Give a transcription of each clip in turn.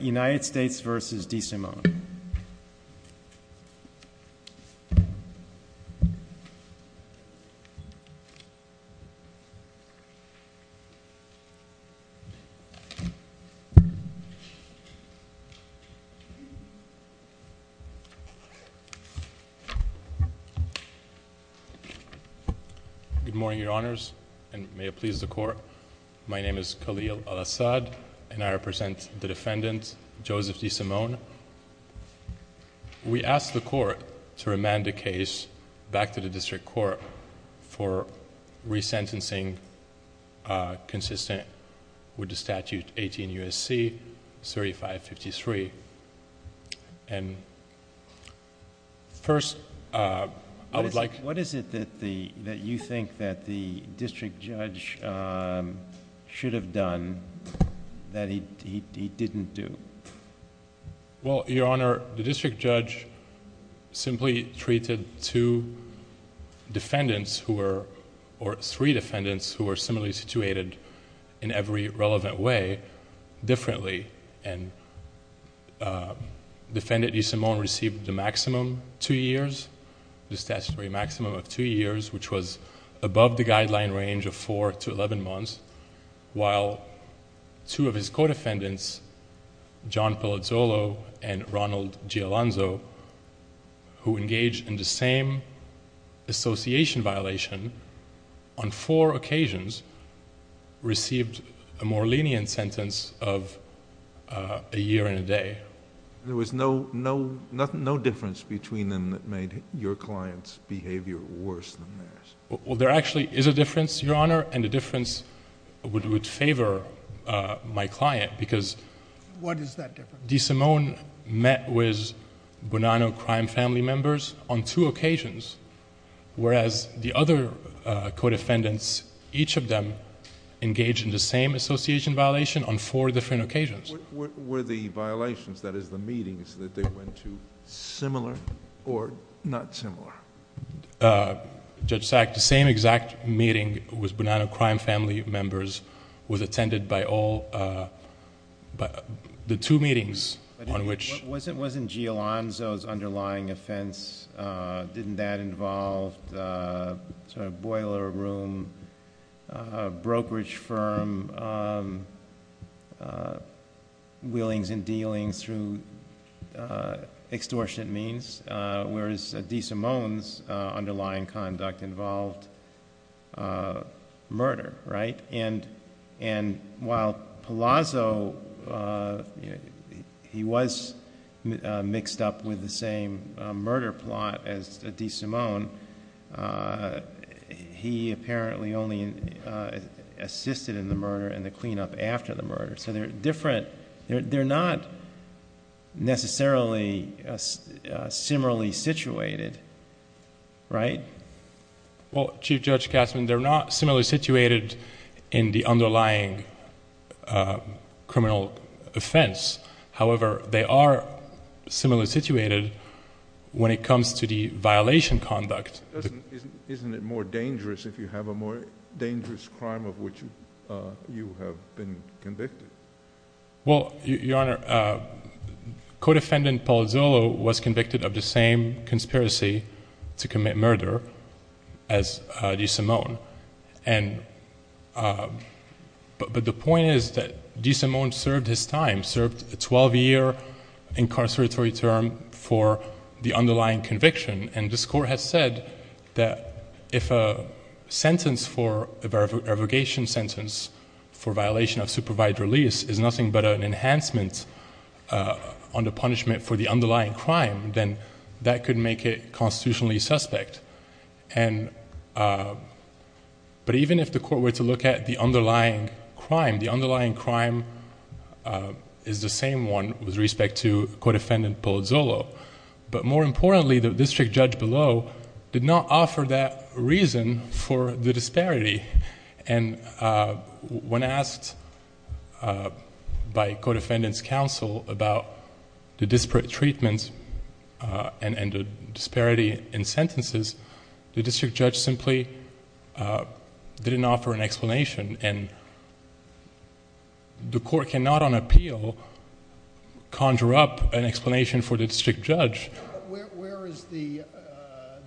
United States v. DeSimone Good morning, your honors, and may it please the court. My name is Khalil Al-Assad, and I represent the defendant, Joseph DeSimone. We ask the court to remand the case back to the district court for re-sentencing consistent with the statute 18 U.S.C. 3553, and first, I would like... should have done that he didn't do. Joseph DeSimone Well, your honor, the district judge simply treated two defendants who were... or three defendants who were similarly situated in every relevant way differently. Defendant DeSimone received the maximum two years, the statutory maximum was above the guideline range of four to eleven months, while two of his co-defendants, John Pellizzolo and Ronald Gialanzo, who engaged in the same association violation on four occasions, received a more lenient sentence of a year and a day. There was no difference between them that made your client's behavior worse than theirs? Joseph DeSimone Well, there actually is a difference, your honor, and the difference would favor my client because... Judge Sotomayor What is that difference? Joseph DeSimone DeSimone met with Bonanno crime family members on two occasions, whereas the other co-defendants, each of them engaged in the same association violation on four different occasions. Judge Sotomayor Were the violations, that is the meetings, that they went to similar or not similar? Joseph DeSimone Judge Sack, the same exact meeting with Bonanno crime family members was attended by all... the two meetings on which... Judge Sotomayor Wasn't Gialanzo's underlying offense, didn't that involve a boiler room, brokerage firm, willings and dealings through extortionate means, whereas DeSimone's underlying conduct involved murder, right? And while Palazzo, he was mixed up with the same murder plot as DeSimone, he apparently only assisted in the murder and the cleanup after the murder, so they're different... they're not necessarily similarly situated, right? Joseph DeSimone Well, Chief Judge Kastner, they're not similarly situated in the underlying criminal offense, however, they are similarly situated when it comes to the violation conduct. Judge Sack Isn't it more dangerous if you have a more dangerous crime of which you have been convicted? Joseph DeSimone Well, Your Honor, co-defendant Palazzolo was convicted of the same conspiracy to commit murder as DeSimone, but the point is that DeSimone served his time, served a 12-year incarceratory term for the underlying conviction, and this Court has said that if a sentence for a revocation sentence for violation of supervised release is nothing but an enhancement on the punishment for the underlying crime, then that could make it constitutionally suspect. But even if the Court were to look at the underlying crime, the underlying crime is the same one with respect to co-defendant Palazzolo, but more importantly, the district judge below did not offer that reason for the disparity, and when asked by co-defendant's counsel about the disparate treatments and the disparity in sentences, the district judge simply didn't offer an explanation, and the Court cannot on appeal conjure up an explanation for the district judge. Where is the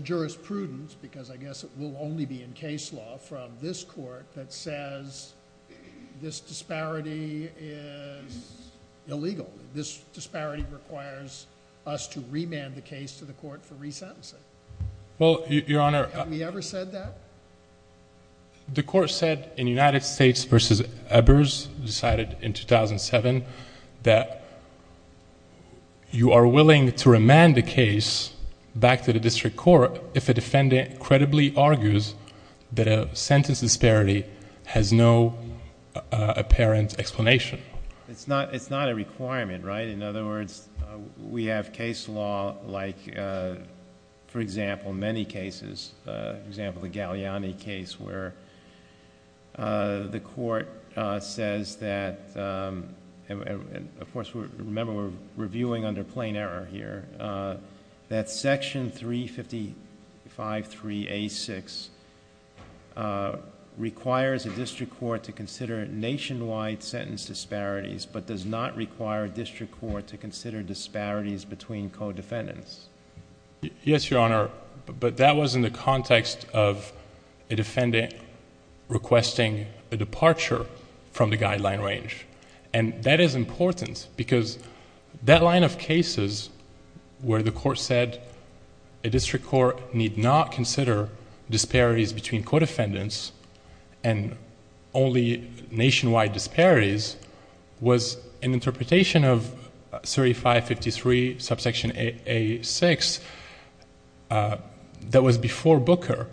jurisprudence, because I guess it will only be in case law, from this Court that says this disparity is illegal, this disparity requires us to remand the case to the Court for resentencing? Well, Your Honor... Have we ever said that? The Court said in United States v. Ebers, decided in 2007, that you are willing to remand the case back to the district court if a defendant credibly argues that a sentence disparity has no apparent explanation. It's not a requirement, right? In other words, we have case law like, for example, many cases, for example, the Galliani case where the Court says that... of course, remember we're viewing under plain error here... that Section 355.3a.6 requires a district court to consider nationwide sentence disparities, but does not require district court to consider disparities between co-defendants. Yes, Your Honor, but that was in the context of a defendant requesting a departure from the guideline range. That is important because that line of cases where the Court said a district court need not consider disparities between co-defendants and only nationwide disparities was an interpretation of 3553 subsection a.6 that was before Booker,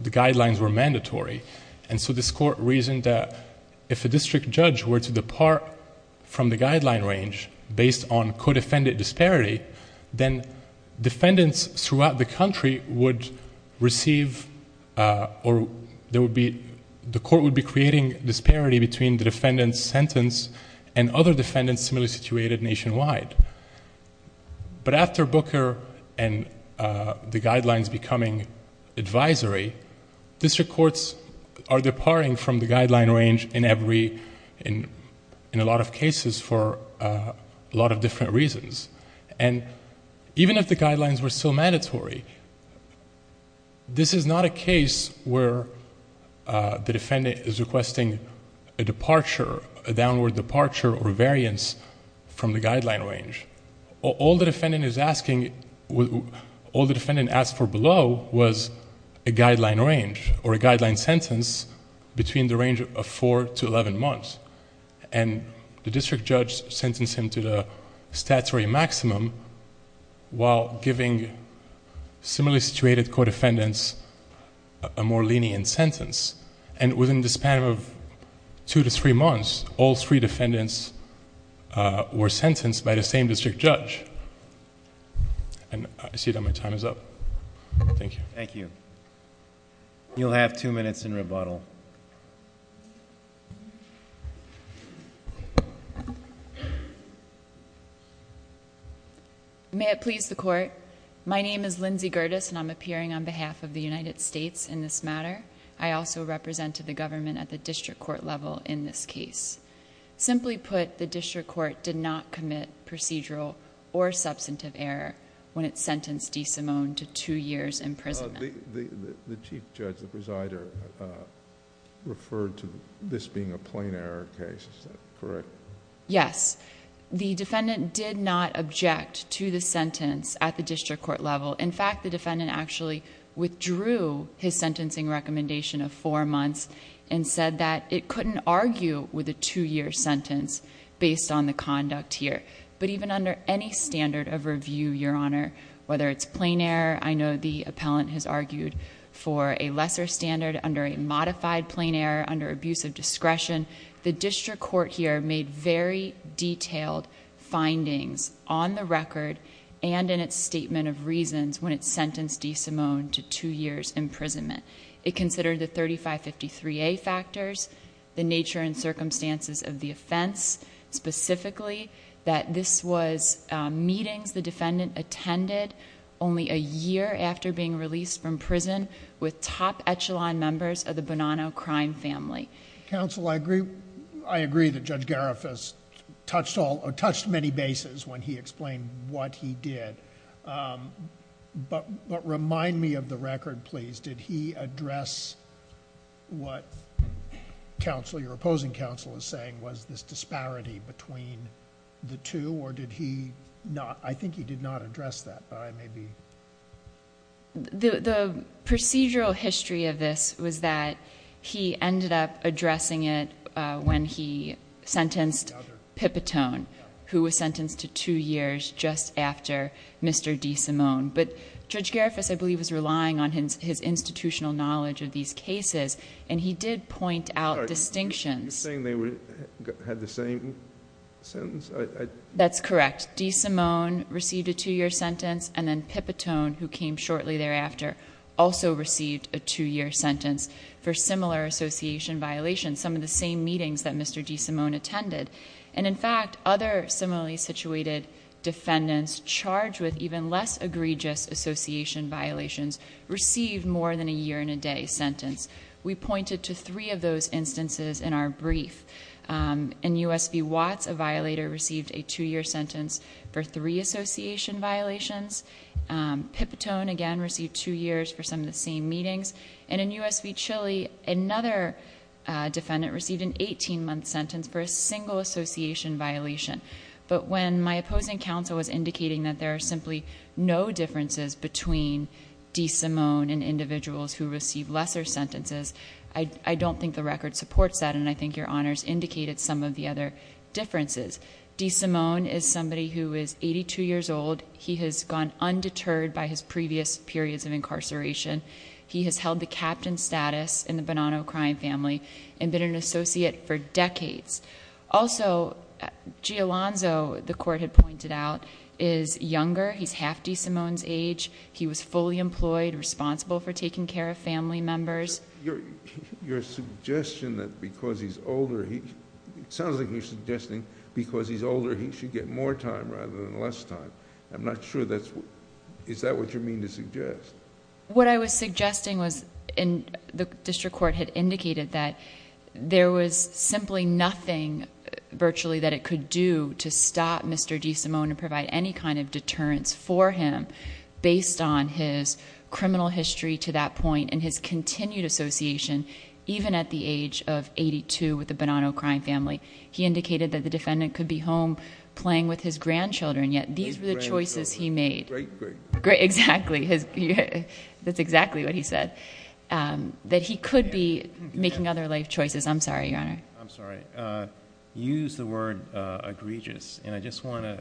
the guidelines were mandatory. This Court reasoned that if a district judge were to depart from the guideline range based on co-defendant disparity, then defendants throughout the country would receive or there would be... the Court would be creating disparity between the defendant's sentence and other defendants similarly situated nationwide. But after Booker and the guidelines becoming advisory, district courts are departing from the guideline range in a lot of cases for a lot of different reasons. Even if the guidelines were still mandatory, this is not a case where the defendant is requesting a departure, a downward departure or a guideline range. All the defendant is asking... all the defendant asked for below was a guideline range or a guideline sentence between the range of four to eleven months. The district judge sentenced him to the statutory maximum while giving similarly situated co-defendants a more lenient sentence. Within the span of two to three months, all three defendants were sentenced by the same district judge. I see that my time is up. Thank you. Thank you. You'll have two minutes in rebuttal. May it please the Court. My name is Lindsay Gerdes and I'm appearing on behalf of the United States in this matter. I also represent the government at the district court level in this case. Simply put, the district court did not commit procedural or substantive error when it sentenced DeSimone to two years' imprisonment. The chief judge, the presider, referred to this being a plain error case. Is that correct? Yes. The defendant did not object to the sentence at the district court level. In fact, the defendant actually withdrew his sentencing recommendation of four based on the conduct here, but even under any standard of review, Your Honor, whether it's plain error, I know the appellant has argued for a lesser standard under a modified plain error, under abuse of discretion. The district court here made very detailed findings on the record and in its statement of reasons when it sentenced DeSimone to two years' imprisonment. It considered the 3553A factors, the nature and circumstances of the offense specifically that this was meetings the defendant attended only a year after being released from prison with top echelon members of the Bonanno crime family. Counsel, I agree that Judge Garifas touched many bases when he explained what he did, but remind me of the record please. Did he address what counsel, your opposing counsel is saying was this disparity between the two or did he not? I think he did not address that, but I may be... The procedural history of this was that he ended up addressing it when he sentenced Pipitone who was sentenced to two years just after Mr. DeSimone, but Judge Garifas did not have institutional knowledge of these cases and he did point out distinctions. You're saying they had the same sentence? That's correct. DeSimone received a two year sentence and then Pipitone who came shortly thereafter also received a two year sentence for similar association violations, some of the same meetings that Mr. DeSimone attended. In fact, other similarly situated defendants charged with even less egregious association violations received more than a year and a day sentence. We pointed to three of those instances in our brief. In U.S. v. Watts, a violator received a two year sentence for three association violations. Pipitone, again, received two years for some of the same meetings. In U.S. v. Chile, another defendant received an eighteen month sentence for a single association violation, but when my opposing counsel was indicating that there are simply no differences between DeSimone and individuals who receive lesser sentences, I don't think the record supports that and I think your honors indicated some of the other differences. DeSimone is somebody who is 82 years old. He has gone undeterred by his previous periods of incarceration. He has held the captain status in the Bonanno crime family and been an associate for decades. Also, Giolanzo, the court had pointed out, is younger. He's half DeSimone's age. He was fully employed, responsible for taking care of family members. Your suggestion that because he's older... it sounds like you're suggesting because he's older, he should get more time rather than less time. I'm not sure that's... is that what you mean to suggest? What I was suggesting was, the district court had indicated that there was simply nothing virtually that it could do to stop Mr. DeSimone and provide any kind of deterrence for him based on his criminal history to that point and his continued association. Even at the age of 82 with the Bonanno crime family. He indicated that the defendant could be home playing with his grandchildren, yet these were the choices he made. Great, great. Great, exactly. That's exactly what he said, that he could be making other life choices. I'm sorry, Your Honor. I'm sorry. Use the word egregious, and I just want to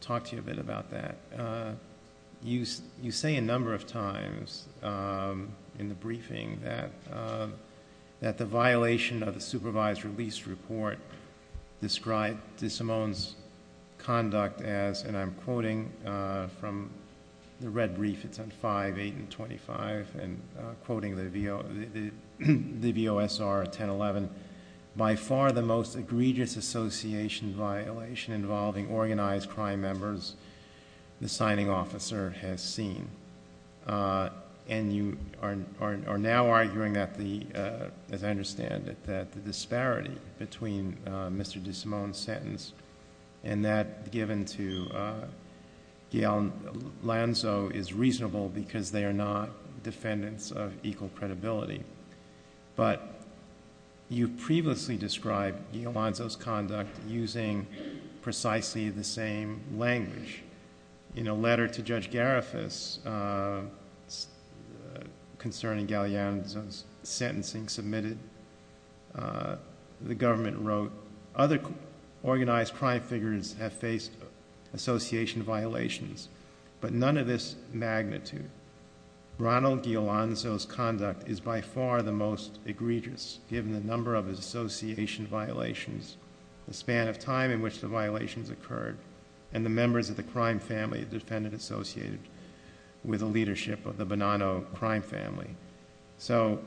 talk to you a bit about that. You say a number of times in the briefing that the violation of the supervised release report described DeSimone's conduct as, and I'm quoting from the red brief. It's on 5, 8, and 25, and I'm quoting the VOSR 1011. By far the most egregious association violation involving organized crime members the signing officer has seen. And you are now arguing that the, as I understand it, that the disparity between Mr. DeSimone's sentence and that given to Lanzo is reasonable because they are not defendants of equal credibility. But you previously described Lanzo's conduct using precisely the same language. In a letter to Judge Garifas concerning Galeano's sentencing submitted, the government wrote, other organized crime figures have faced association violations. But none of this magnitude, Ronald DeAlonzo's conduct is by far the most egregious, given the number of his association violations, the span of time in which the violations occurred, and the members of the crime family defendant associated with the leadership of the Bonanno crime family. So,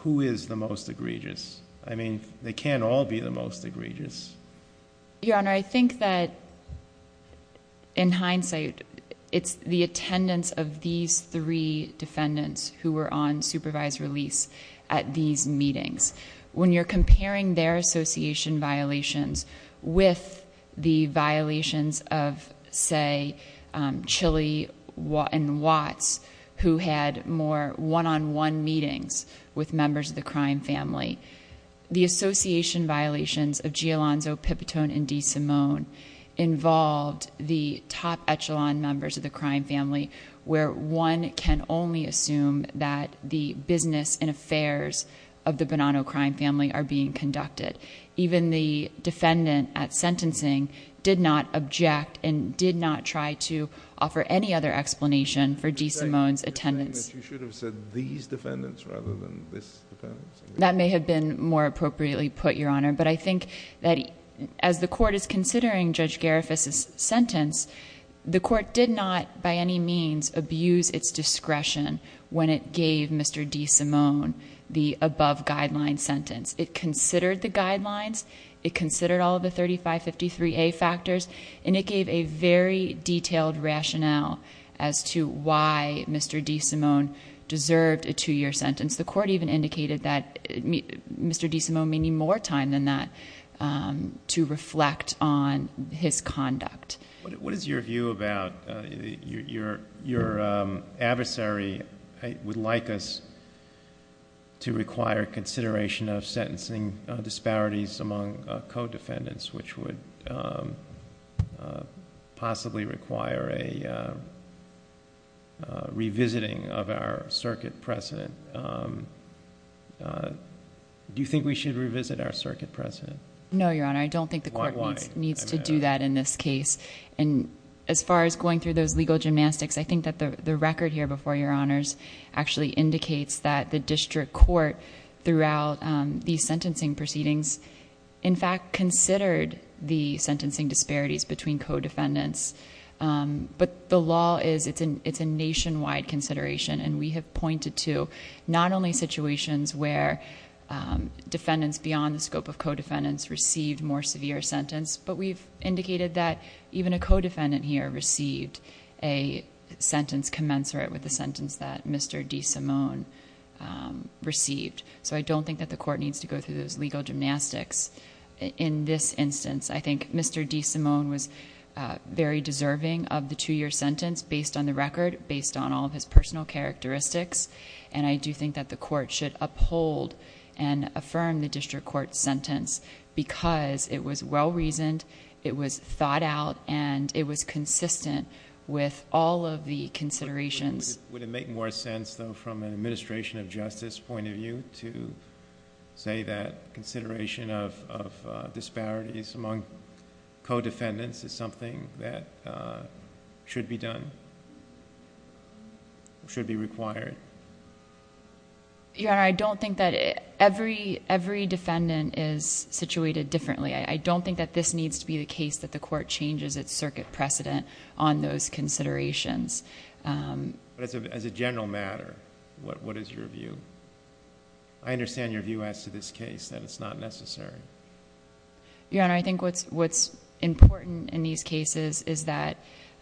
who is the most egregious? I mean, they can't all be the most egregious. Your Honor, I think that in hindsight, it's the attendance of these three defendants who were on supervised release at these meetings. When you're comparing their association violations with the violations of, say, Chilly and Watts, who had more one-on-one meetings with members of the crime family. The association violations of Gialonzo, Pipitone, and DeSimone involved the top echelon members of the crime family where one can only assume that the business and affairs of the Bonanno crime family are being conducted. Even the defendant at sentencing did not object and did not try to offer any other explanation for DeSimone's attendance. You should have said these defendants rather than this defendant. That may have been more appropriately put, Your Honor. But I think that as the court is considering Judge Garifas's sentence, the court did not, by any means, abuse its discretion when it gave Mr. DeSimone the above guideline sentence. It considered the guidelines, it considered all of the 3553A factors, and it gave a very detailed rationale as to why Mr. DeSimone deserved a two-year sentence. The court even indicated that Mr. DeSimone may need more time than that to reflect on his conduct. What is your view about, your adversary would like us to require consideration of sentencing disparities among co-defendants, which would possibly require a revisiting of our circuit precedent. Do you think we should revisit our circuit precedent? No, your honor, I don't think the court needs to do that in this case. And as far as going through those legal gymnastics, I think that the record here before your honors actually indicates that the district court throughout the sentencing proceedings, in fact, considered the sentencing disparities between co-defendants. But the law is, it's a nationwide consideration, and we have pointed to not only situations where defendants beyond the scope of co-defendants received more severe sentence, but we've indicated that even a co-defendant here received a sentence commensurate with the sentence that Mr. DeSimone received. So I don't think that the court needs to go through those legal gymnastics. In this instance, I think Mr. DeSimone was very deserving of the two year sentence based on the record, based on all of his personal characteristics, and I do think that the court should uphold and affirm the district court sentence because it was well reasoned, it was thought out, and it was consistent with all of the considerations. Would it make more sense though from an administration of justice point of view to say that consideration of disparities among co-defendants is something that should be done? Should be required? Your Honor, I don't think that every defendant is situated differently. I don't think that this needs to be the case that the court changes its circuit precedent on those considerations. But as a general matter, what is your view? I understand your view as to this case, that it's not necessary. Your Honor, I think what's important in these cases is that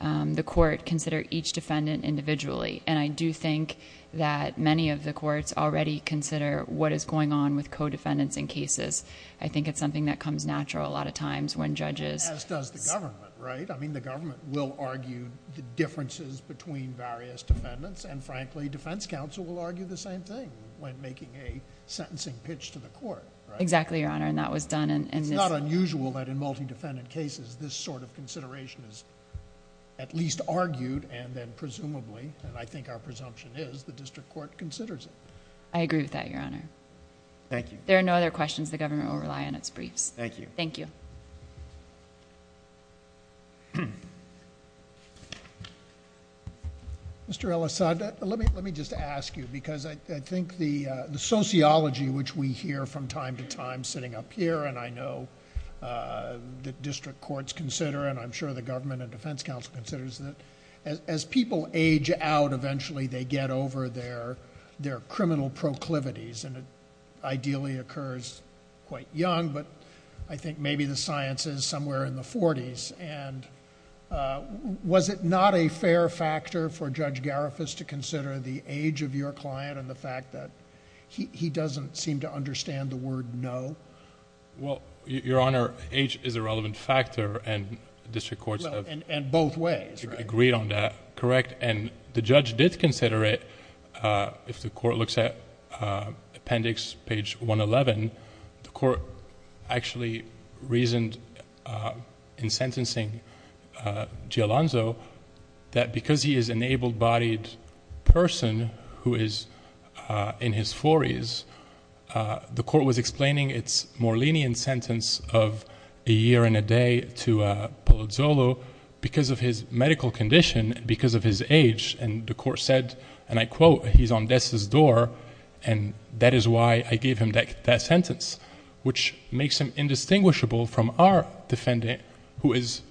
the court consider each defendant individually. And I do think that many of the courts already consider what is going on with co-defendants in cases. I think it's something that comes natural a lot of times when judges- As does the government, right? I mean, the government will argue the differences between various defendants, and frankly, defense counsel will argue the same thing when making a sentencing pitch to the court, right? Exactly, Your Honor, and that was done in this- It's not unusual that in multi-defendant cases, this sort of consideration is at least argued and then presumably, and I think our presumption is, the district court considers it. I agree with that, Your Honor. Thank you. There are no other questions. The government will rely on its briefs. Thank you. Thank you. Mr. El-Assad, let me just ask you, because I think the sociology which we hear from time to time sitting up here, and I know the district courts consider, and I'm sure the government and defense council considers it. As people age out, eventually they get over their criminal proclivities. And it ideally occurs quite young, but I think maybe the science is somewhere in the 40s. And was it not a fair factor for Judge Garifas to consider the age of your client and the fact that he doesn't seem to understand the word no? Well, Your Honor, age is a relevant factor and district courts have- And both ways, right? Agreed on that, correct. And the judge did consider it, if the court looks at appendix page 111, the court actually reasoned in sentencing Gialonzo that because he is an able-bodied person who is in his 40s, the court was explaining its more lenient sentence of a year and a day to Polozolo because of his medical condition and because of his age. And the court said, and I quote, he's on death's door, and that is why I gave him that sentence. Which makes him indistinguishable from our defendant who is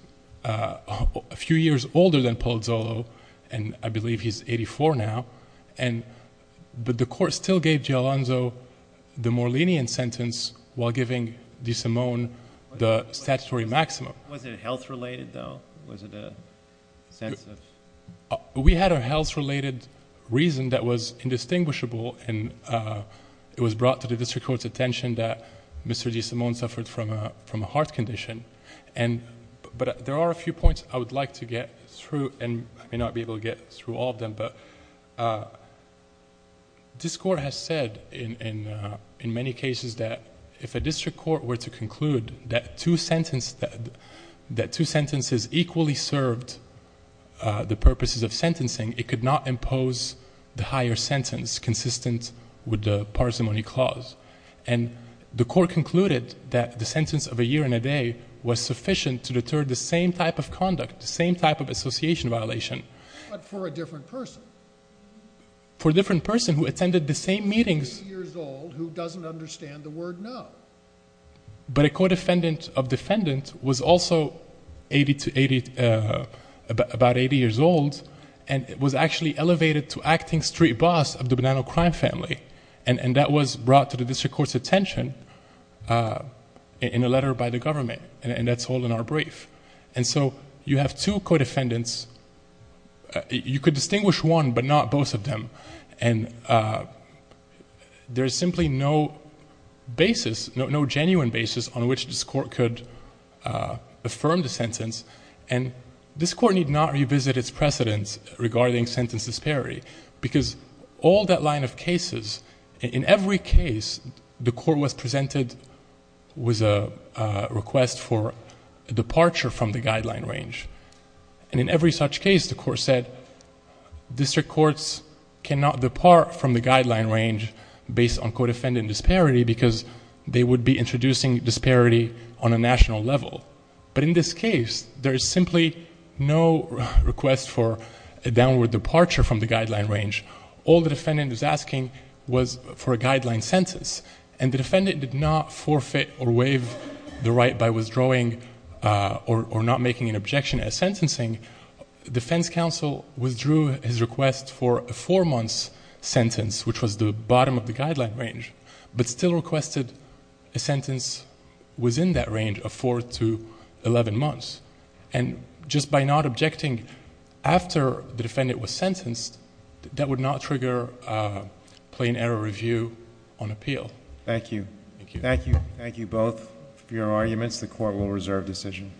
a few years older than Polozolo, and I believe he's 84 now, but the court still gave Gialonzo the more lenient sentence while giving DeSimone the statutory maximum. Was it health-related though? Was it a sense of... We had a health-related reason that was indistinguishable and it was brought to the district court's attention that Mr. DeSimone suffered from a heart condition. But there are a few points I would like to get through, and I may not be able to get through all of them, but this court has said in many cases that if a district court were to conclude that two sentences equally served the purposes of sentencing, it could not impose the higher sentence consistent with the parsimony clause. And the court concluded that the sentence of a year and a day was sufficient to deter the same type of conduct, the same type of association violation. But for a different person. For a different person who attended the same meetings. 80 years old who doesn't understand the word no. But a co-defendant of defendant was also about 80 years old and was actually elevated to acting street boss of the Bonanno crime family. And that was brought to the district court's attention in a letter by the government, and that's all in our brief. And so you have two co-defendants. You could distinguish one but not both of them. And there is simply no basis, no genuine basis on which this court could affirm the sentence. And this court need not revisit its precedents regarding sentence disparity because all that line of cases, in every case, the court was presented with a request for departure from the guideline range. And in every such case, the court said, district courts cannot depart from the guideline range based on co-defendant disparity because they would be introducing disparity on a national level. But in this case, there is simply no request for a downward departure from the guideline range. All the defendant is asking was for a guideline sentence. And the defendant did not forfeit or waive the right by withdrawing or not making an objection as sentencing. Defense counsel withdrew his request for a four-month sentence, which was the bottom of the guideline range, but still requested a sentence within that range of four to 11 months. And just by not objecting after the defendant was sentenced, that would not trigger a plain error review on appeal. Thank you. Thank you. Thank you both for your arguments. The court will reserve decision.